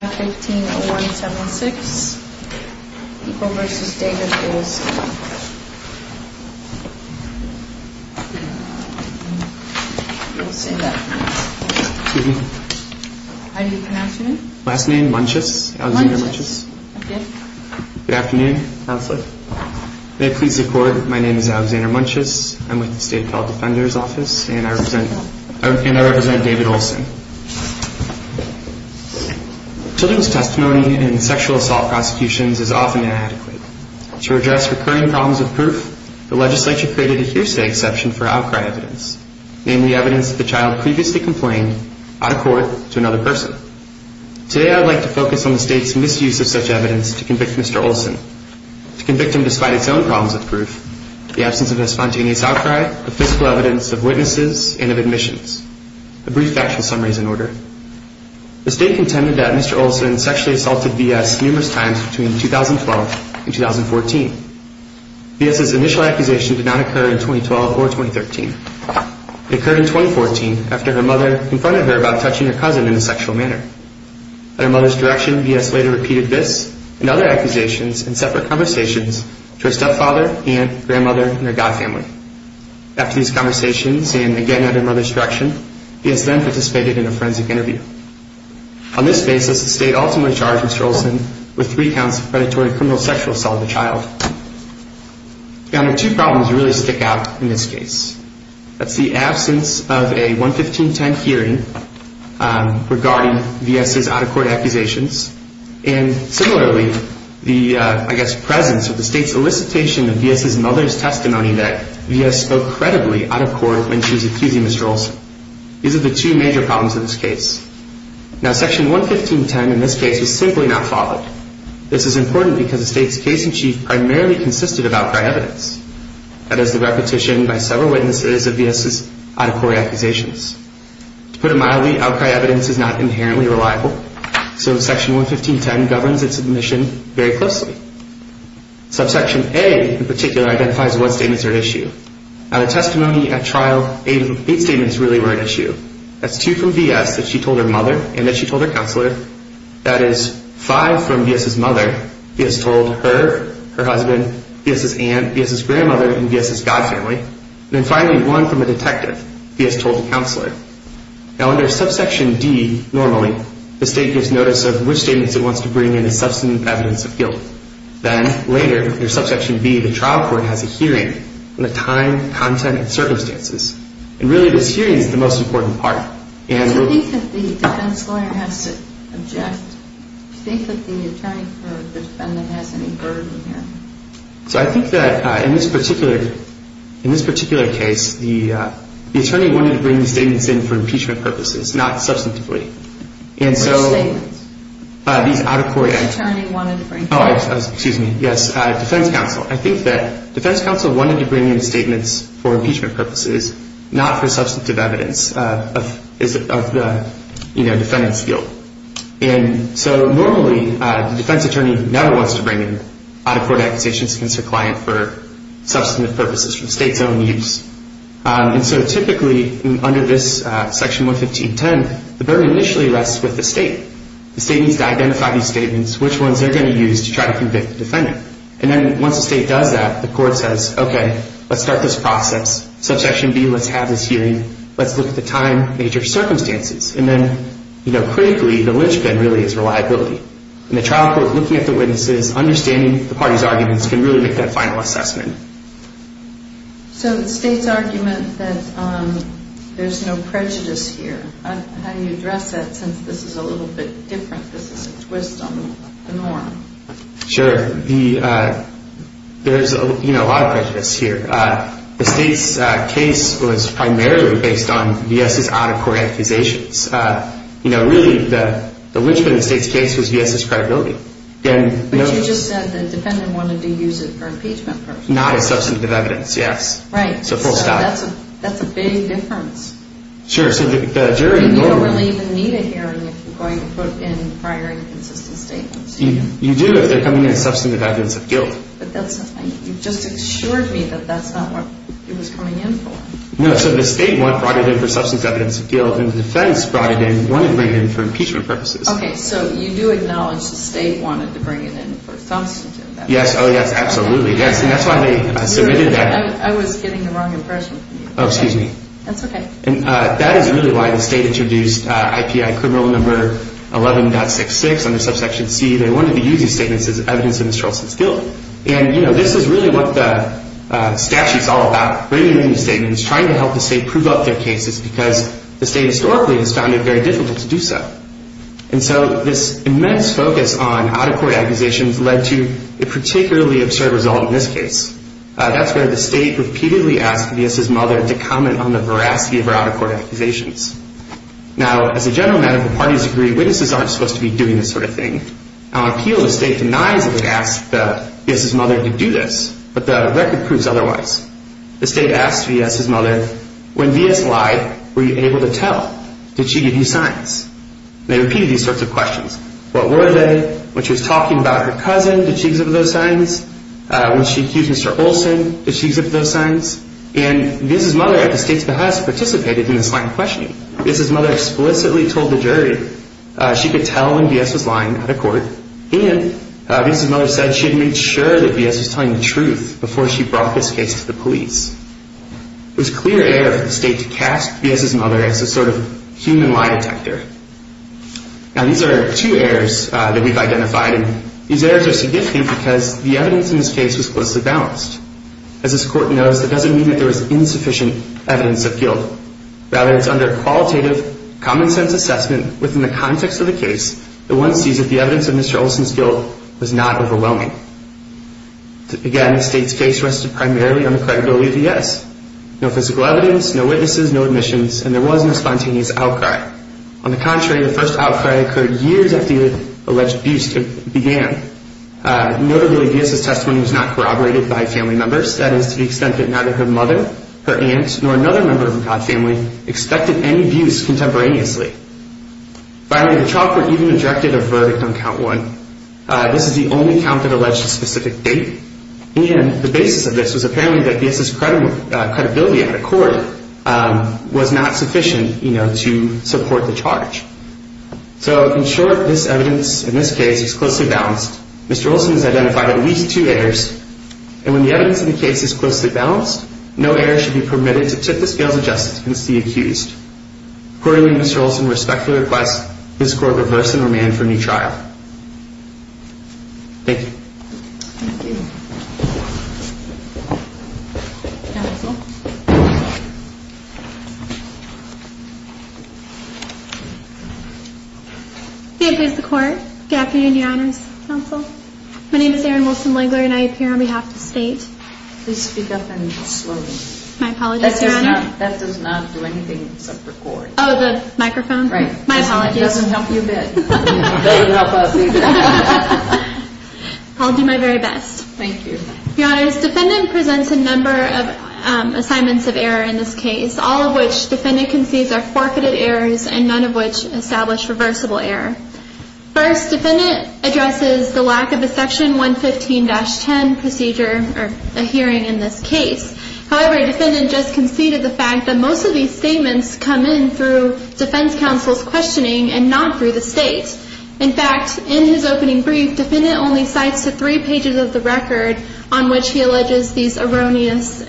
My name is Alexander Munches. I'm with the State Defender's Office and I represent David Olson. Children's testimony in sexual assault prosecutions is often inadequate. To address recurring problems with proof, the legislature created a hearsay exception for outcry evidence, namely evidence that the child previously complained, out of court, to another person. Today I would like to focus on the State's misuse of such evidence to convict Mr. Olson. To convict him despite its own problems with proof, the absence of a spontaneous outcry, of physical evidence, of witnesses, and of admissions. A brief factual summary is in order. The State contended that Mr. Olson sexually assaulted V.S. numerous times between 2012 and 2014. V.S.'s initial accusation did not occur in 2012 or 2013. It occurred in 2014 after her mother confronted her about touching her cousin in a sexual manner. At her mother's direction, V.S. later repeated this and other accusations in separate conversations to her stepfather, aunt, grandmother, and their godfamily. After these conversations and again at her mother's direction, V.S. then participated in a forensic interview. On this basis, the State ultimately charged Mr. Olson with three counts of predatory criminal sexual assault of the child. Now there are two problems that really stick out in this case. That's the absence of a 11510 hearing regarding V.S.'s out of court accusations, and similarly, the, I guess, presence of the State's elicitation of V.S.'s mother's testimony that V.S. spoke credibly out of court when she was accusing Mr. Olson. These are the two major problems in this case. Now Section 11510 in this case was simply not followed. This is important because the State's case in chief primarily consisted of outcry evidence. That is the repetition by several witnesses of V.S.'s out of court accusations. To put it mildly, outcry evidence is not inherently reliable, so Section 11510 governs its admission very closely. Subsection A in particular identifies what statements are at issue. Out of testimony at trial, eight statements really were at issue. That's two from V.S. that she told her mother and that she told her counselor. That is five from V.S.'s mother, V.S. told her, her husband, V.S.'s aunt, V.S.'s grandmother, and V.S.'s godfamily. And then finally, one from a detective, V.S. told a counselor. Now under Subsection D, normally, the State gives notice of which statements it wants to bring in as substantive evidence of guilt. Then later, under Subsection B, the trial court has a hearing on the time, content, and circumstances. And really this hearing is the most important part. Do you think that the defense lawyer has to object? Do you think that the attorney for defendant has any burden here? So I think that in this particular case, the attorney wanted to bring the statements in for impeachment purposes, not substantively. Which statements? Oh, excuse me. Yes, defense counsel. I think that defense counsel wanted to bring in statements for impeachment purposes, not for substantive evidence of defendant's guilt. And so normally, the defense attorney never wants to bring in out-of-court accusations against their client for substantive purposes, for the State's own use. And so typically, under this Section 115.10, the burden initially rests with the State. The State needs to identify these statements, which ones they're going to use to try to convict the defendant. And then once the State does that, the court says, okay, let's start this process. Subsection B, let's have this hearing. Let's look at the time, major circumstances. And then critically, the linchpin really is reliability. And the trial court, looking at the witnesses, understanding the parties' arguments, can really make that final assessment. So the State's argument that there's no prejudice here, how do you address that since this is a little bit different, this is a twist on the norm? Sure. There's a lot of prejudice here. The State's case was primarily based on V.S.'s out-of-court accusations. Really, the linchpin in the State's case was V.S.'s credibility. But you just said the defendant wanted to use it for impeachment purposes. Not as substantive evidence, yes. Right. So that's a big difference. Sure. You don't really even need a hearing if you're going to put in prior inconsistent statements. You do if they're coming in as substantive evidence of guilt. But that's not, you just assured me that that's not what it was coming in for. No, so the State brought it in for substantive evidence of guilt, and the defense brought it in, wanted to bring it in for impeachment purposes. Okay, so you do acknowledge the State wanted to bring it in for substantive evidence. Yes, oh yes, absolutely. Yes, and that's why they submitted that. I was getting the wrong impression from you. Oh, excuse me. That's okay. And that is really why the State introduced IPI Criminal Number 11.66 under Subsection C. They wanted to use these statements as evidence of Mr. Olson's guilt. And, you know, this is really what the statute's all about, bringing in statements, trying to help the State prove up their cases, because the State historically has found it very difficult to do so. And so this immense focus on out-of-court accusations led to a particularly absurd result in this case. That's where the State repeatedly asked Villas' mother to comment on the veracity of her out-of-court accusations. Now, as a general matter, the parties agree witnesses aren't supposed to be doing this sort of thing. Our appeal to the State denies that it asked Villas' mother to do this, but the record proves otherwise. The State asked Villas' mother, when Villas lied, were you able to tell? Did she give you signs? They repeated these sorts of questions. What were they? When she was talking about her cousin, did she give some of those signs? When she accused Mr. Olson, did she give those signs? And Villas' mother, at the State's behest, participated in this line of questioning. Villas' mother explicitly told the jury she could tell when Villas was lying out of court. And Villas' mother said she had made sure that Villas was telling the truth before she brought this case to the police. It was clear error for the State to cast Villas' mother as a sort of human lie detector. Now, these are two errors that we've identified. These errors are significant because the evidence in this case was closely balanced. As this Court knows, that doesn't mean that there was insufficient evidence of guilt. Rather, it's under a qualitative, common-sense assessment within the context of the case that one sees that the evidence of Mr. Olson's guilt was not overwhelming. Again, the State's case rested primarily on the credibility of the S. No physical evidence, no witnesses, no admissions, and there was no spontaneous outcry. On the contrary, the first outcry occurred years after the alleged abuse began. Notably, Villas' testimony was not corroborated by family members. That is to the extent that neither her mother, her aunt, nor another member of the McCodd family expected any abuse contemporaneously. Finally, the chalkboard even ejected a verdict on count one. This is the only count that alleged a specific date. And the basis of this was apparently that Villas' credibility out of court was not sufficient, you know, to support the charge. So, in short, this evidence in this case is closely balanced. Mr. Olson has identified at least two errors. And when the evidence in the case is closely balanced, no error should be permitted to tip the scales of justice against the accused. Accordingly, Mr. Olson respectfully requests this Court reverse the normand for a new trial. Thank you. Thank you. Counsel. Good afternoon, Your Honor. Good afternoon, Your Honors. Counsel. My name is Erin Wilson-Langler, and I appear on behalf of the state. Please speak up and slow down. My apologies, Your Honor. That does not do anything except record. Oh, the microphone? Right. My apologies. It doesn't help you a bit. It doesn't help us either. I'll do my very best. Thank you. Your Honors, defendant presents a number of assignments of error in this case, all of which defendant concedes are forfeited errors and none of which establish reversible error. First, defendant addresses the lack of a Section 115-10 hearing in this case. However, defendant just conceded the fact that most of these statements come in through defense counsel's questioning and not through the state. In fact, in his opening brief, defendant only cites the three pages of the record on which he alleges these erroneous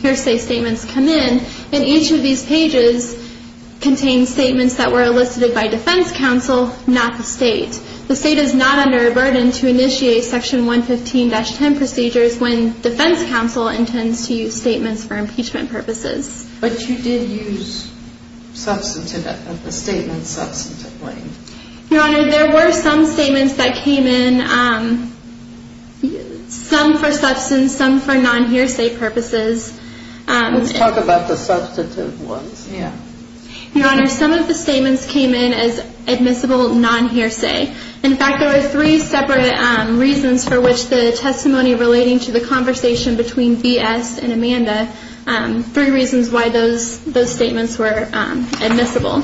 hearsay statements come in, and each of these pages contains statements that were elicited by defense counsel, not the state. The state is not under a burden to initiate Section 115-10 procedures when defense counsel intends to use statements for impeachment purposes. But you did use substantive of the statement substantively. Your Honor, there were some statements that came in, some for substance, some for non-hearsay purposes. Let's talk about the substantive ones. Your Honor, some of the statements came in as admissible non-hearsay. In fact, there were three separate reasons for which the testimony relating to the conversation between B.S. and Amanda, three reasons why those statements were admissible.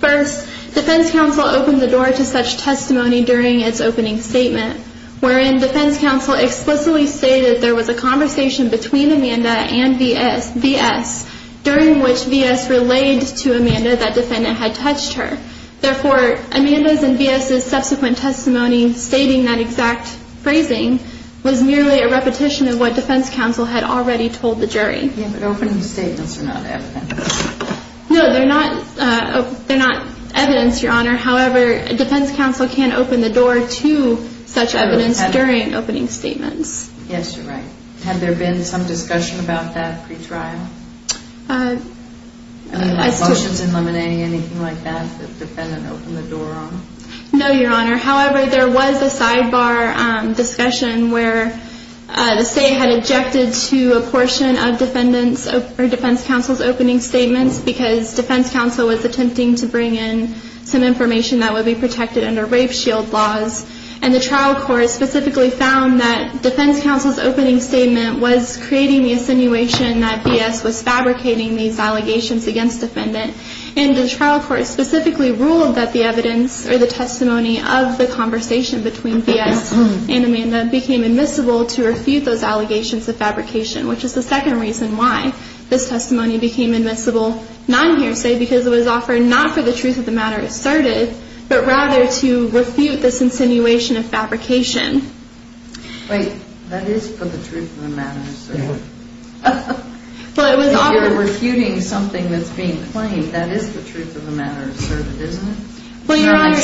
First, defense counsel opened the door to such testimony during its opening statement, wherein defense counsel explicitly stated there was a conversation between Amanda and B.S. during which B.S. relayed to Amanda that defendant had touched her. Therefore, Amanda's and B.S.'s subsequent testimony stating that exact phrasing was merely a repetition of what defense counsel had already told the jury. Yeah, but opening statements are not evidence. No, they're not evidence, Your Honor. However, defense counsel can open the door to such evidence during opening statements. Yes, you're right. Had there been some discussion about that pre-trial? Motions in Lemonade, anything like that, the defendant opened the door on? No, Your Honor. However, there was a sidebar discussion where the state had objected to a portion of defense counsel's opening statements because defense counsel was attempting to bring in some information that would be protected under rape shield laws, and the trial court specifically found that defense counsel's opening statement was creating the assinuation that B.S. was fabricating these allegations against defendant, and the trial court specifically ruled that the evidence or the testimony of the conversation between B.S. and Amanda became admissible to refute those allegations of fabrication, which is the second reason why this testimony became admissible non-hearsay, because it was offered not for the truth of the matter asserted, but rather to refute this insinuation of fabrication. Wait. That is for the truth of the matter asserted. If you're refuting something that's being claimed, that is the truth of the matter asserted, isn't it? Well, Your Honor,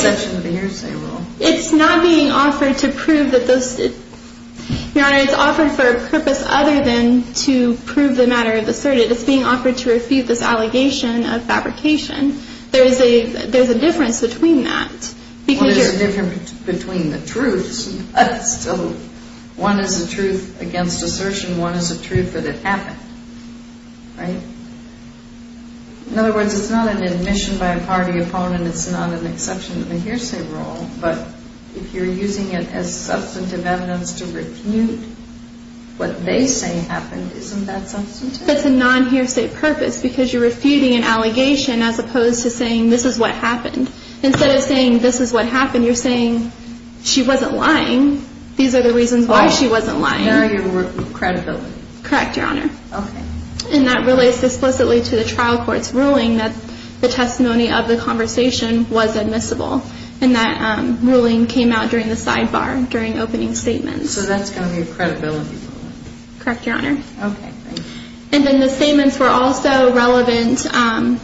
it's not being offered to prove that those, Your Honor, it's offered for a purpose other than to prove the matter of asserted. It's being offered to refute this allegation of fabrication. There's a difference between that. There's a difference between the truths. One is the truth against assertion. One is the truth that it happened, right? In other words, it's not an admission by a party opponent. It's not an exception in the hearsay rule, but if you're using it as substantive evidence to refute what they say happened, isn't that substantive? It's a non-hearsay purpose because you're refuting an allegation as opposed to saying this is what happened. Instead of saying this is what happened, you're saying she wasn't lying. These are the reasons why she wasn't lying. Oh, barrier of credibility. Correct, Your Honor. Okay. And that relates explicitly to the trial court's ruling that the testimony of the conversation was admissible, and that ruling came out during the sidebar during opening statements. So that's going to be a credibility ruling. Correct, Your Honor. Okay, great. And then the statements were also relevant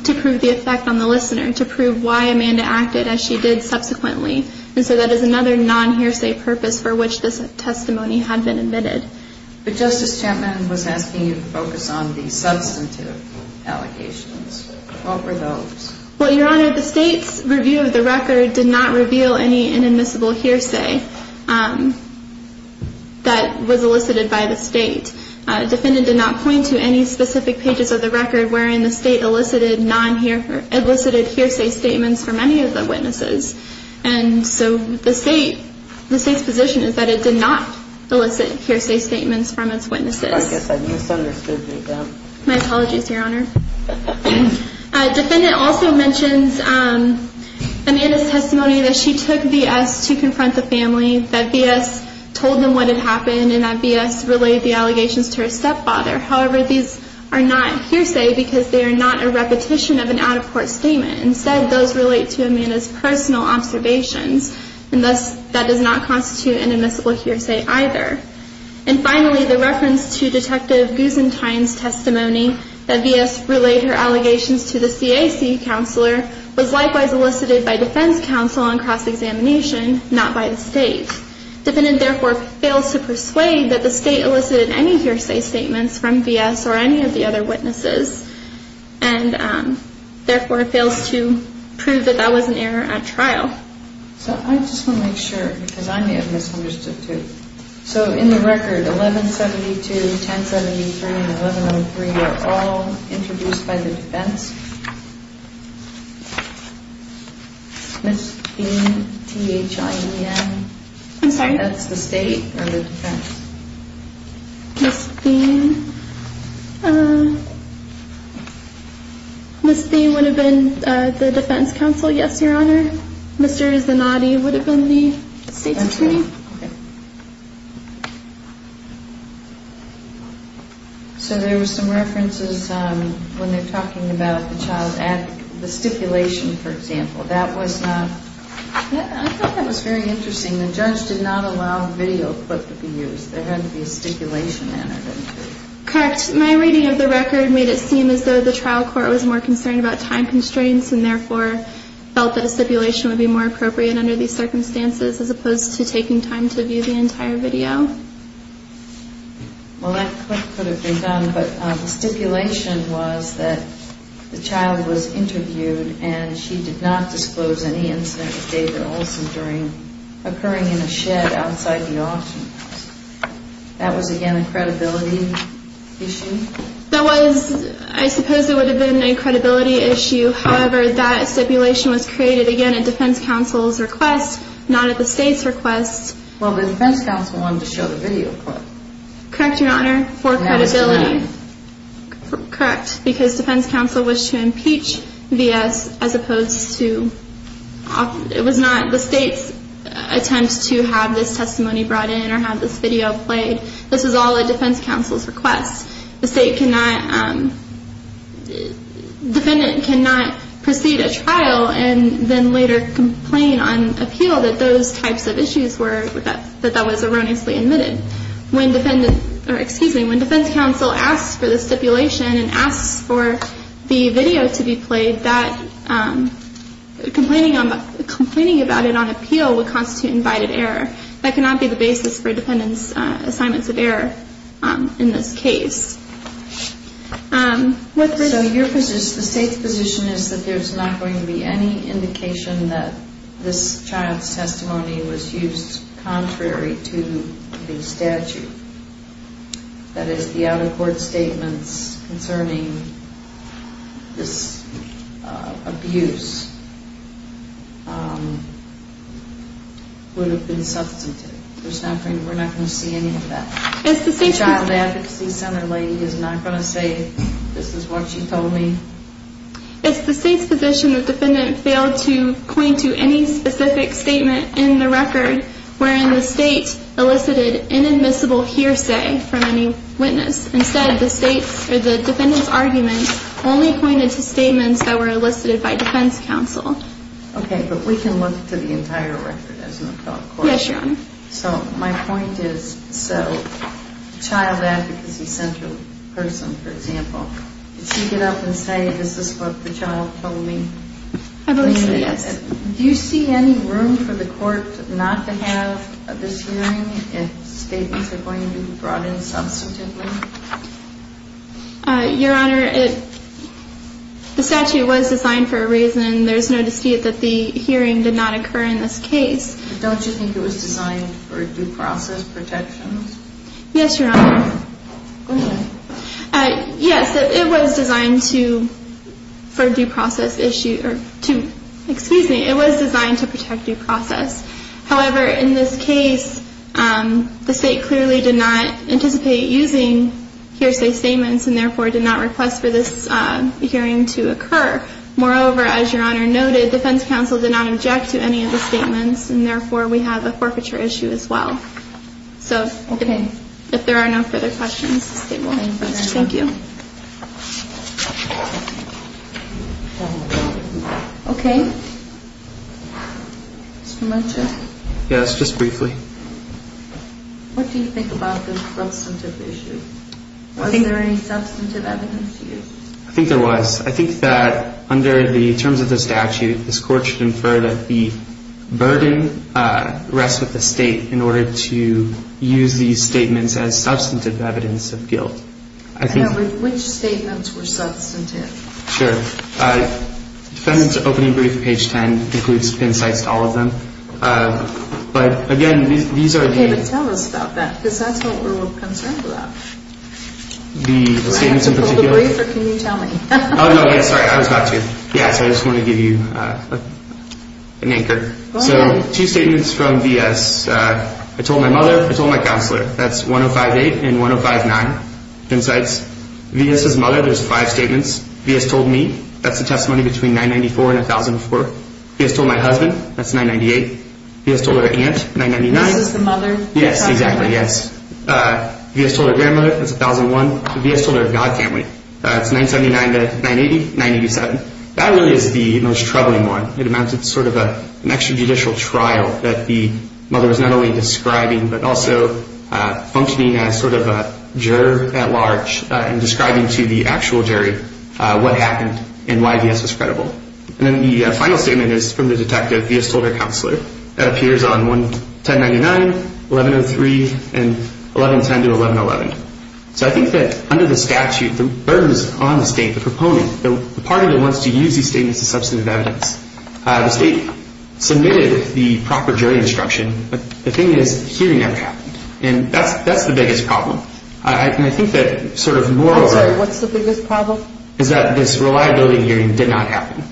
to prove the effect on the listener, to prove why Amanda acted as she did subsequently, and so that is another non-hearsay purpose for which this testimony had been admitted. But Justice Chapman was asking you to focus on the substantive allegations. What were those? Well, Your Honor, the State's review of the record did not reveal any inadmissible hearsay that was elicited by the State. The defendant did not point to any specific pages of the record wherein the State elicited hearsay statements from any of the witnesses, and so the State's position is that it did not elicit hearsay statements from its witnesses. I guess I misunderstood you then. My apologies, Your Honor. The defendant also mentions Amanda's testimony that she took V.S. to confront the family, that V.S. told them what had happened, and that V.S. relayed the allegations to her stepfather. However, these are not hearsay because they are not a repetition of an out-of-court statement. Instead, those relate to Amanda's personal observations, and thus that does not constitute inadmissible hearsay either. And finally, the reference to Detective Gusentine's testimony that V.S. relayed her allegations to the CAC counselor was likewise elicited by defense counsel on cross-examination, not by the State. The defendant therefore fails to persuade that the State elicited any hearsay statements from V.S. or any of the other witnesses, and therefore fails to prove that that was an error at trial. So I just want to make sure because I may have misunderstood too. So in the record, 1172, 1073, and 1103 are all introduced by the defense. Ms. Thien, T-H-I-E-N. I'm sorry? That's the State or the defense? Ms. Thien. Ms. Thien would have been the defense counsel, yes, Your Honor. Mr. Zanotti would have been the State's attorney. Okay. So there were some references when they're talking about the child at the stipulation, for example. That was not, I thought that was very interesting. The judge did not allow video clip to be used. There had to be a stipulation in it. Correct. My reading of the record made it seem as though the trial court was more concerned about time constraints and therefore felt that a stipulation would be more appropriate under these circumstances as opposed to taking time to view the entire video. Well, that clip could have been done, but the stipulation was that the child was interviewed and she did not disclose any incident with David Olson occurring in a shed outside the auction house. That was, again, a credibility issue? That was, I suppose it would have been a credibility issue. However, that stipulation was created, again, at defense counsel's request, not at the State's request. Well, the defense counsel wanted to show the video clip. Correct, Your Honor, for credibility. And that was denied. Correct, because defense counsel wished to impeach V.S. as opposed to, it was not the State's attempt to have this testimony brought in or have this video played. This was all at defense counsel's request. The State cannot, defendant cannot proceed a trial and then later complain on appeal that those types of issues were, that that was erroneously admitted. When defense counsel asks for the stipulation and asks for the video to be played, that complaining about it on appeal would constitute invited error. That cannot be the basis for defendant's assignments of error in this case. So your position, the State's position is that there's not going to be any indication that this child's testimony was used contrary to the statute. That is, the out-of-court statements concerning this abuse would have been substantive. There's not going to, we're not going to see any of that. The Child Advocacy Center lady is not going to say this is what she told me? It's the State's position the defendant failed to point to any specific statement in the record wherein the State elicited inadmissible hearsay from any witness. Instead, the State's, or the defendant's argument only pointed to statements that were elicited by defense counsel. Okay, but we can look to the entire record as an out-of-court. Yes, Your Honor. So my point is, so Child Advocacy Center person, for example, did she get up and say this is what the child told me? I believe so, yes. Do you see any room for the court not to have this hearing if statements are going to be brought in substantively? Your Honor, the statute was designed for a reason. There's no dispute that the hearing did not occur in this case. Don't you think it was designed for due process protections? Yes, Your Honor. Okay. Yes, it was designed to, for a due process issue, or to, excuse me, it was designed to protect due process. However, in this case, the State clearly did not anticipate using hearsay statements and therefore did not request for this hearing to occur. Moreover, as Your Honor noted, defense counsel did not object to any of the statements and therefore we have a forfeiture issue as well. Okay. So if there are no further questions, the State will hang up first. Thank you. Okay. Mr. Marchuk? Yes, just briefly. What do you think about the substantive issue? Was there any substantive evidence used? I think there was. I think that under the terms of the statute, this court should infer that the burden rests with the State in order to use these statements as substantive evidence of guilt. Which statements were substantive? Sure. Defendant's opening brief, page 10, includes pin cites to all of them. But again, these are... Okay, but tell us about that because that's what we're concerned about. The statements in particular... Do I have to pull the brief or can you tell me? Oh, no, sorry, I was about to. Yes, I just wanted to give you an anchor. Go ahead. Two statements from V.S. I told my mother, I told my counselor. That's 1058 and 1059, pin cites. V.S.'s mother, there's five statements. V.S. told me. That's the testimony between 994 and 1004. V.S. told my husband. That's 998. V.S. told her aunt, 999. This is the mother? Yes, exactly, yes. V.S. told her grandmother. That's 1001. V.S. told her god family. That's 979 to 980, 987. That really is the most troubling one. It amounts to sort of an extrajudicial trial that the mother was not only describing but also functioning as sort of a juror at large and describing to the actual jury what happened and why V.S. was credible. And then the final statement is from the detective. V.S. told her counselor. That appears on 1099, 1103, and 1110 to 1111. So I think that under the statute, the burden is on the state, the proponent. The part of it wants to use these statements as substantive evidence. The state submitted the proper jury instruction, but the thing is hearing never happened. And that's the biggest problem. And I think that sort of more or less. I'm sorry. What's the biggest problem? Is that this reliability hearing did not happen.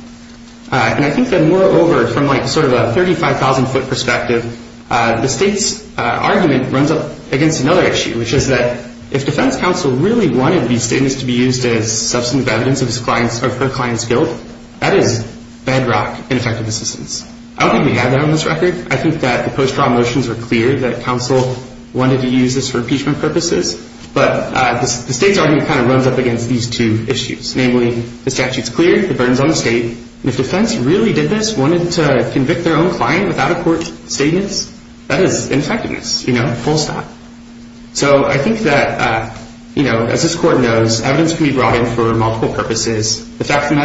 And I think that moreover, from like sort of a 35,000-foot perspective, the state's argument runs up against another issue, which is that if defense counsel really wanted these statements to be used as substantive evidence of her client's guilt, that is bedrock ineffective assistance. I don't think we have that on this record. I think that the post-trial motions were clear that counsel wanted to use this for impeachment purposes. But the state's argument kind of runs up against these two issues, namely the statute's clear, the burden's on the state, and if defense really did this, wanted to convict their own client without a court statement, that is ineffectiveness, you know, full stop. So I think that, you know, as this court knows, evidence can be brought in for multiple purposes. The fact of the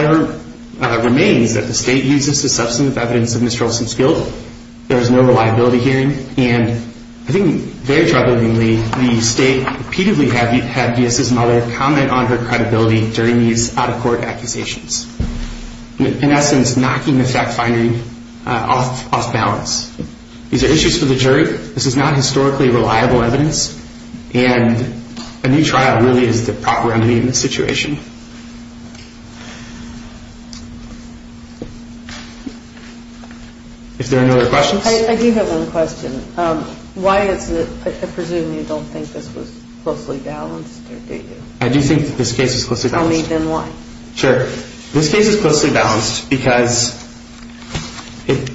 matter remains that the state uses this as substantive evidence of Mr. Olson's guilt. There is no reliability hearing. And I think very troublingly, the state repeatedly had V.S.'s mother comment on her credibility during these out-of-court accusations, in essence, knocking the fact-finding off balance. These are issues for the jury. This is not historically reliable evidence, and a new trial really is the proper remedy in this situation. If there are no other questions. I do have one question. Why is it, I presume you don't think this was closely balanced, or do you? I do think that this case is closely balanced. Tell me then why. Sure. This case is closely balanced because it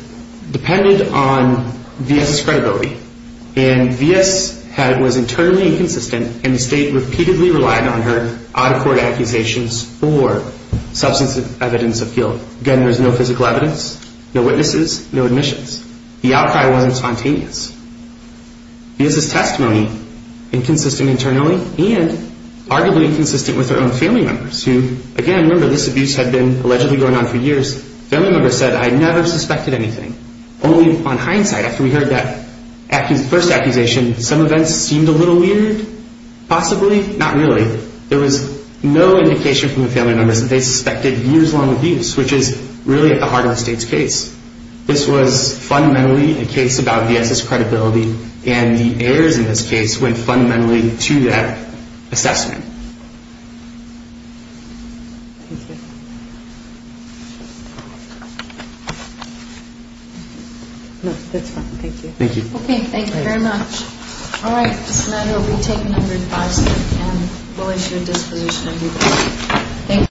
depended on V.S.'s credibility. And V.S. was internally inconsistent, and the state repeatedly relied on her out-of-court accusations for substantive evidence of guilt. Again, there's no physical evidence, no witnesses, no admissions. The outcry wasn't spontaneous. V.S.'s testimony, inconsistent internally, and arguably inconsistent with her own family members, who, again, remember, this abuse had been allegedly going on for years. Family members said, I never suspected anything. Only on hindsight, after we heard that first accusation, some events seemed a little weird, possibly. Not really. There was no indication from the family members that they suspected years-long abuse, which is really at the heart of the state's case. This was fundamentally a case about V.S.'s credibility, and the errors in this case went fundamentally to that assessment. Thank you. No, that's fine. Thank you. Thank you. Okay. Thank you very much. All right. This matter will be taken under advisory, and we'll issue a disclosure in due course. Thank you.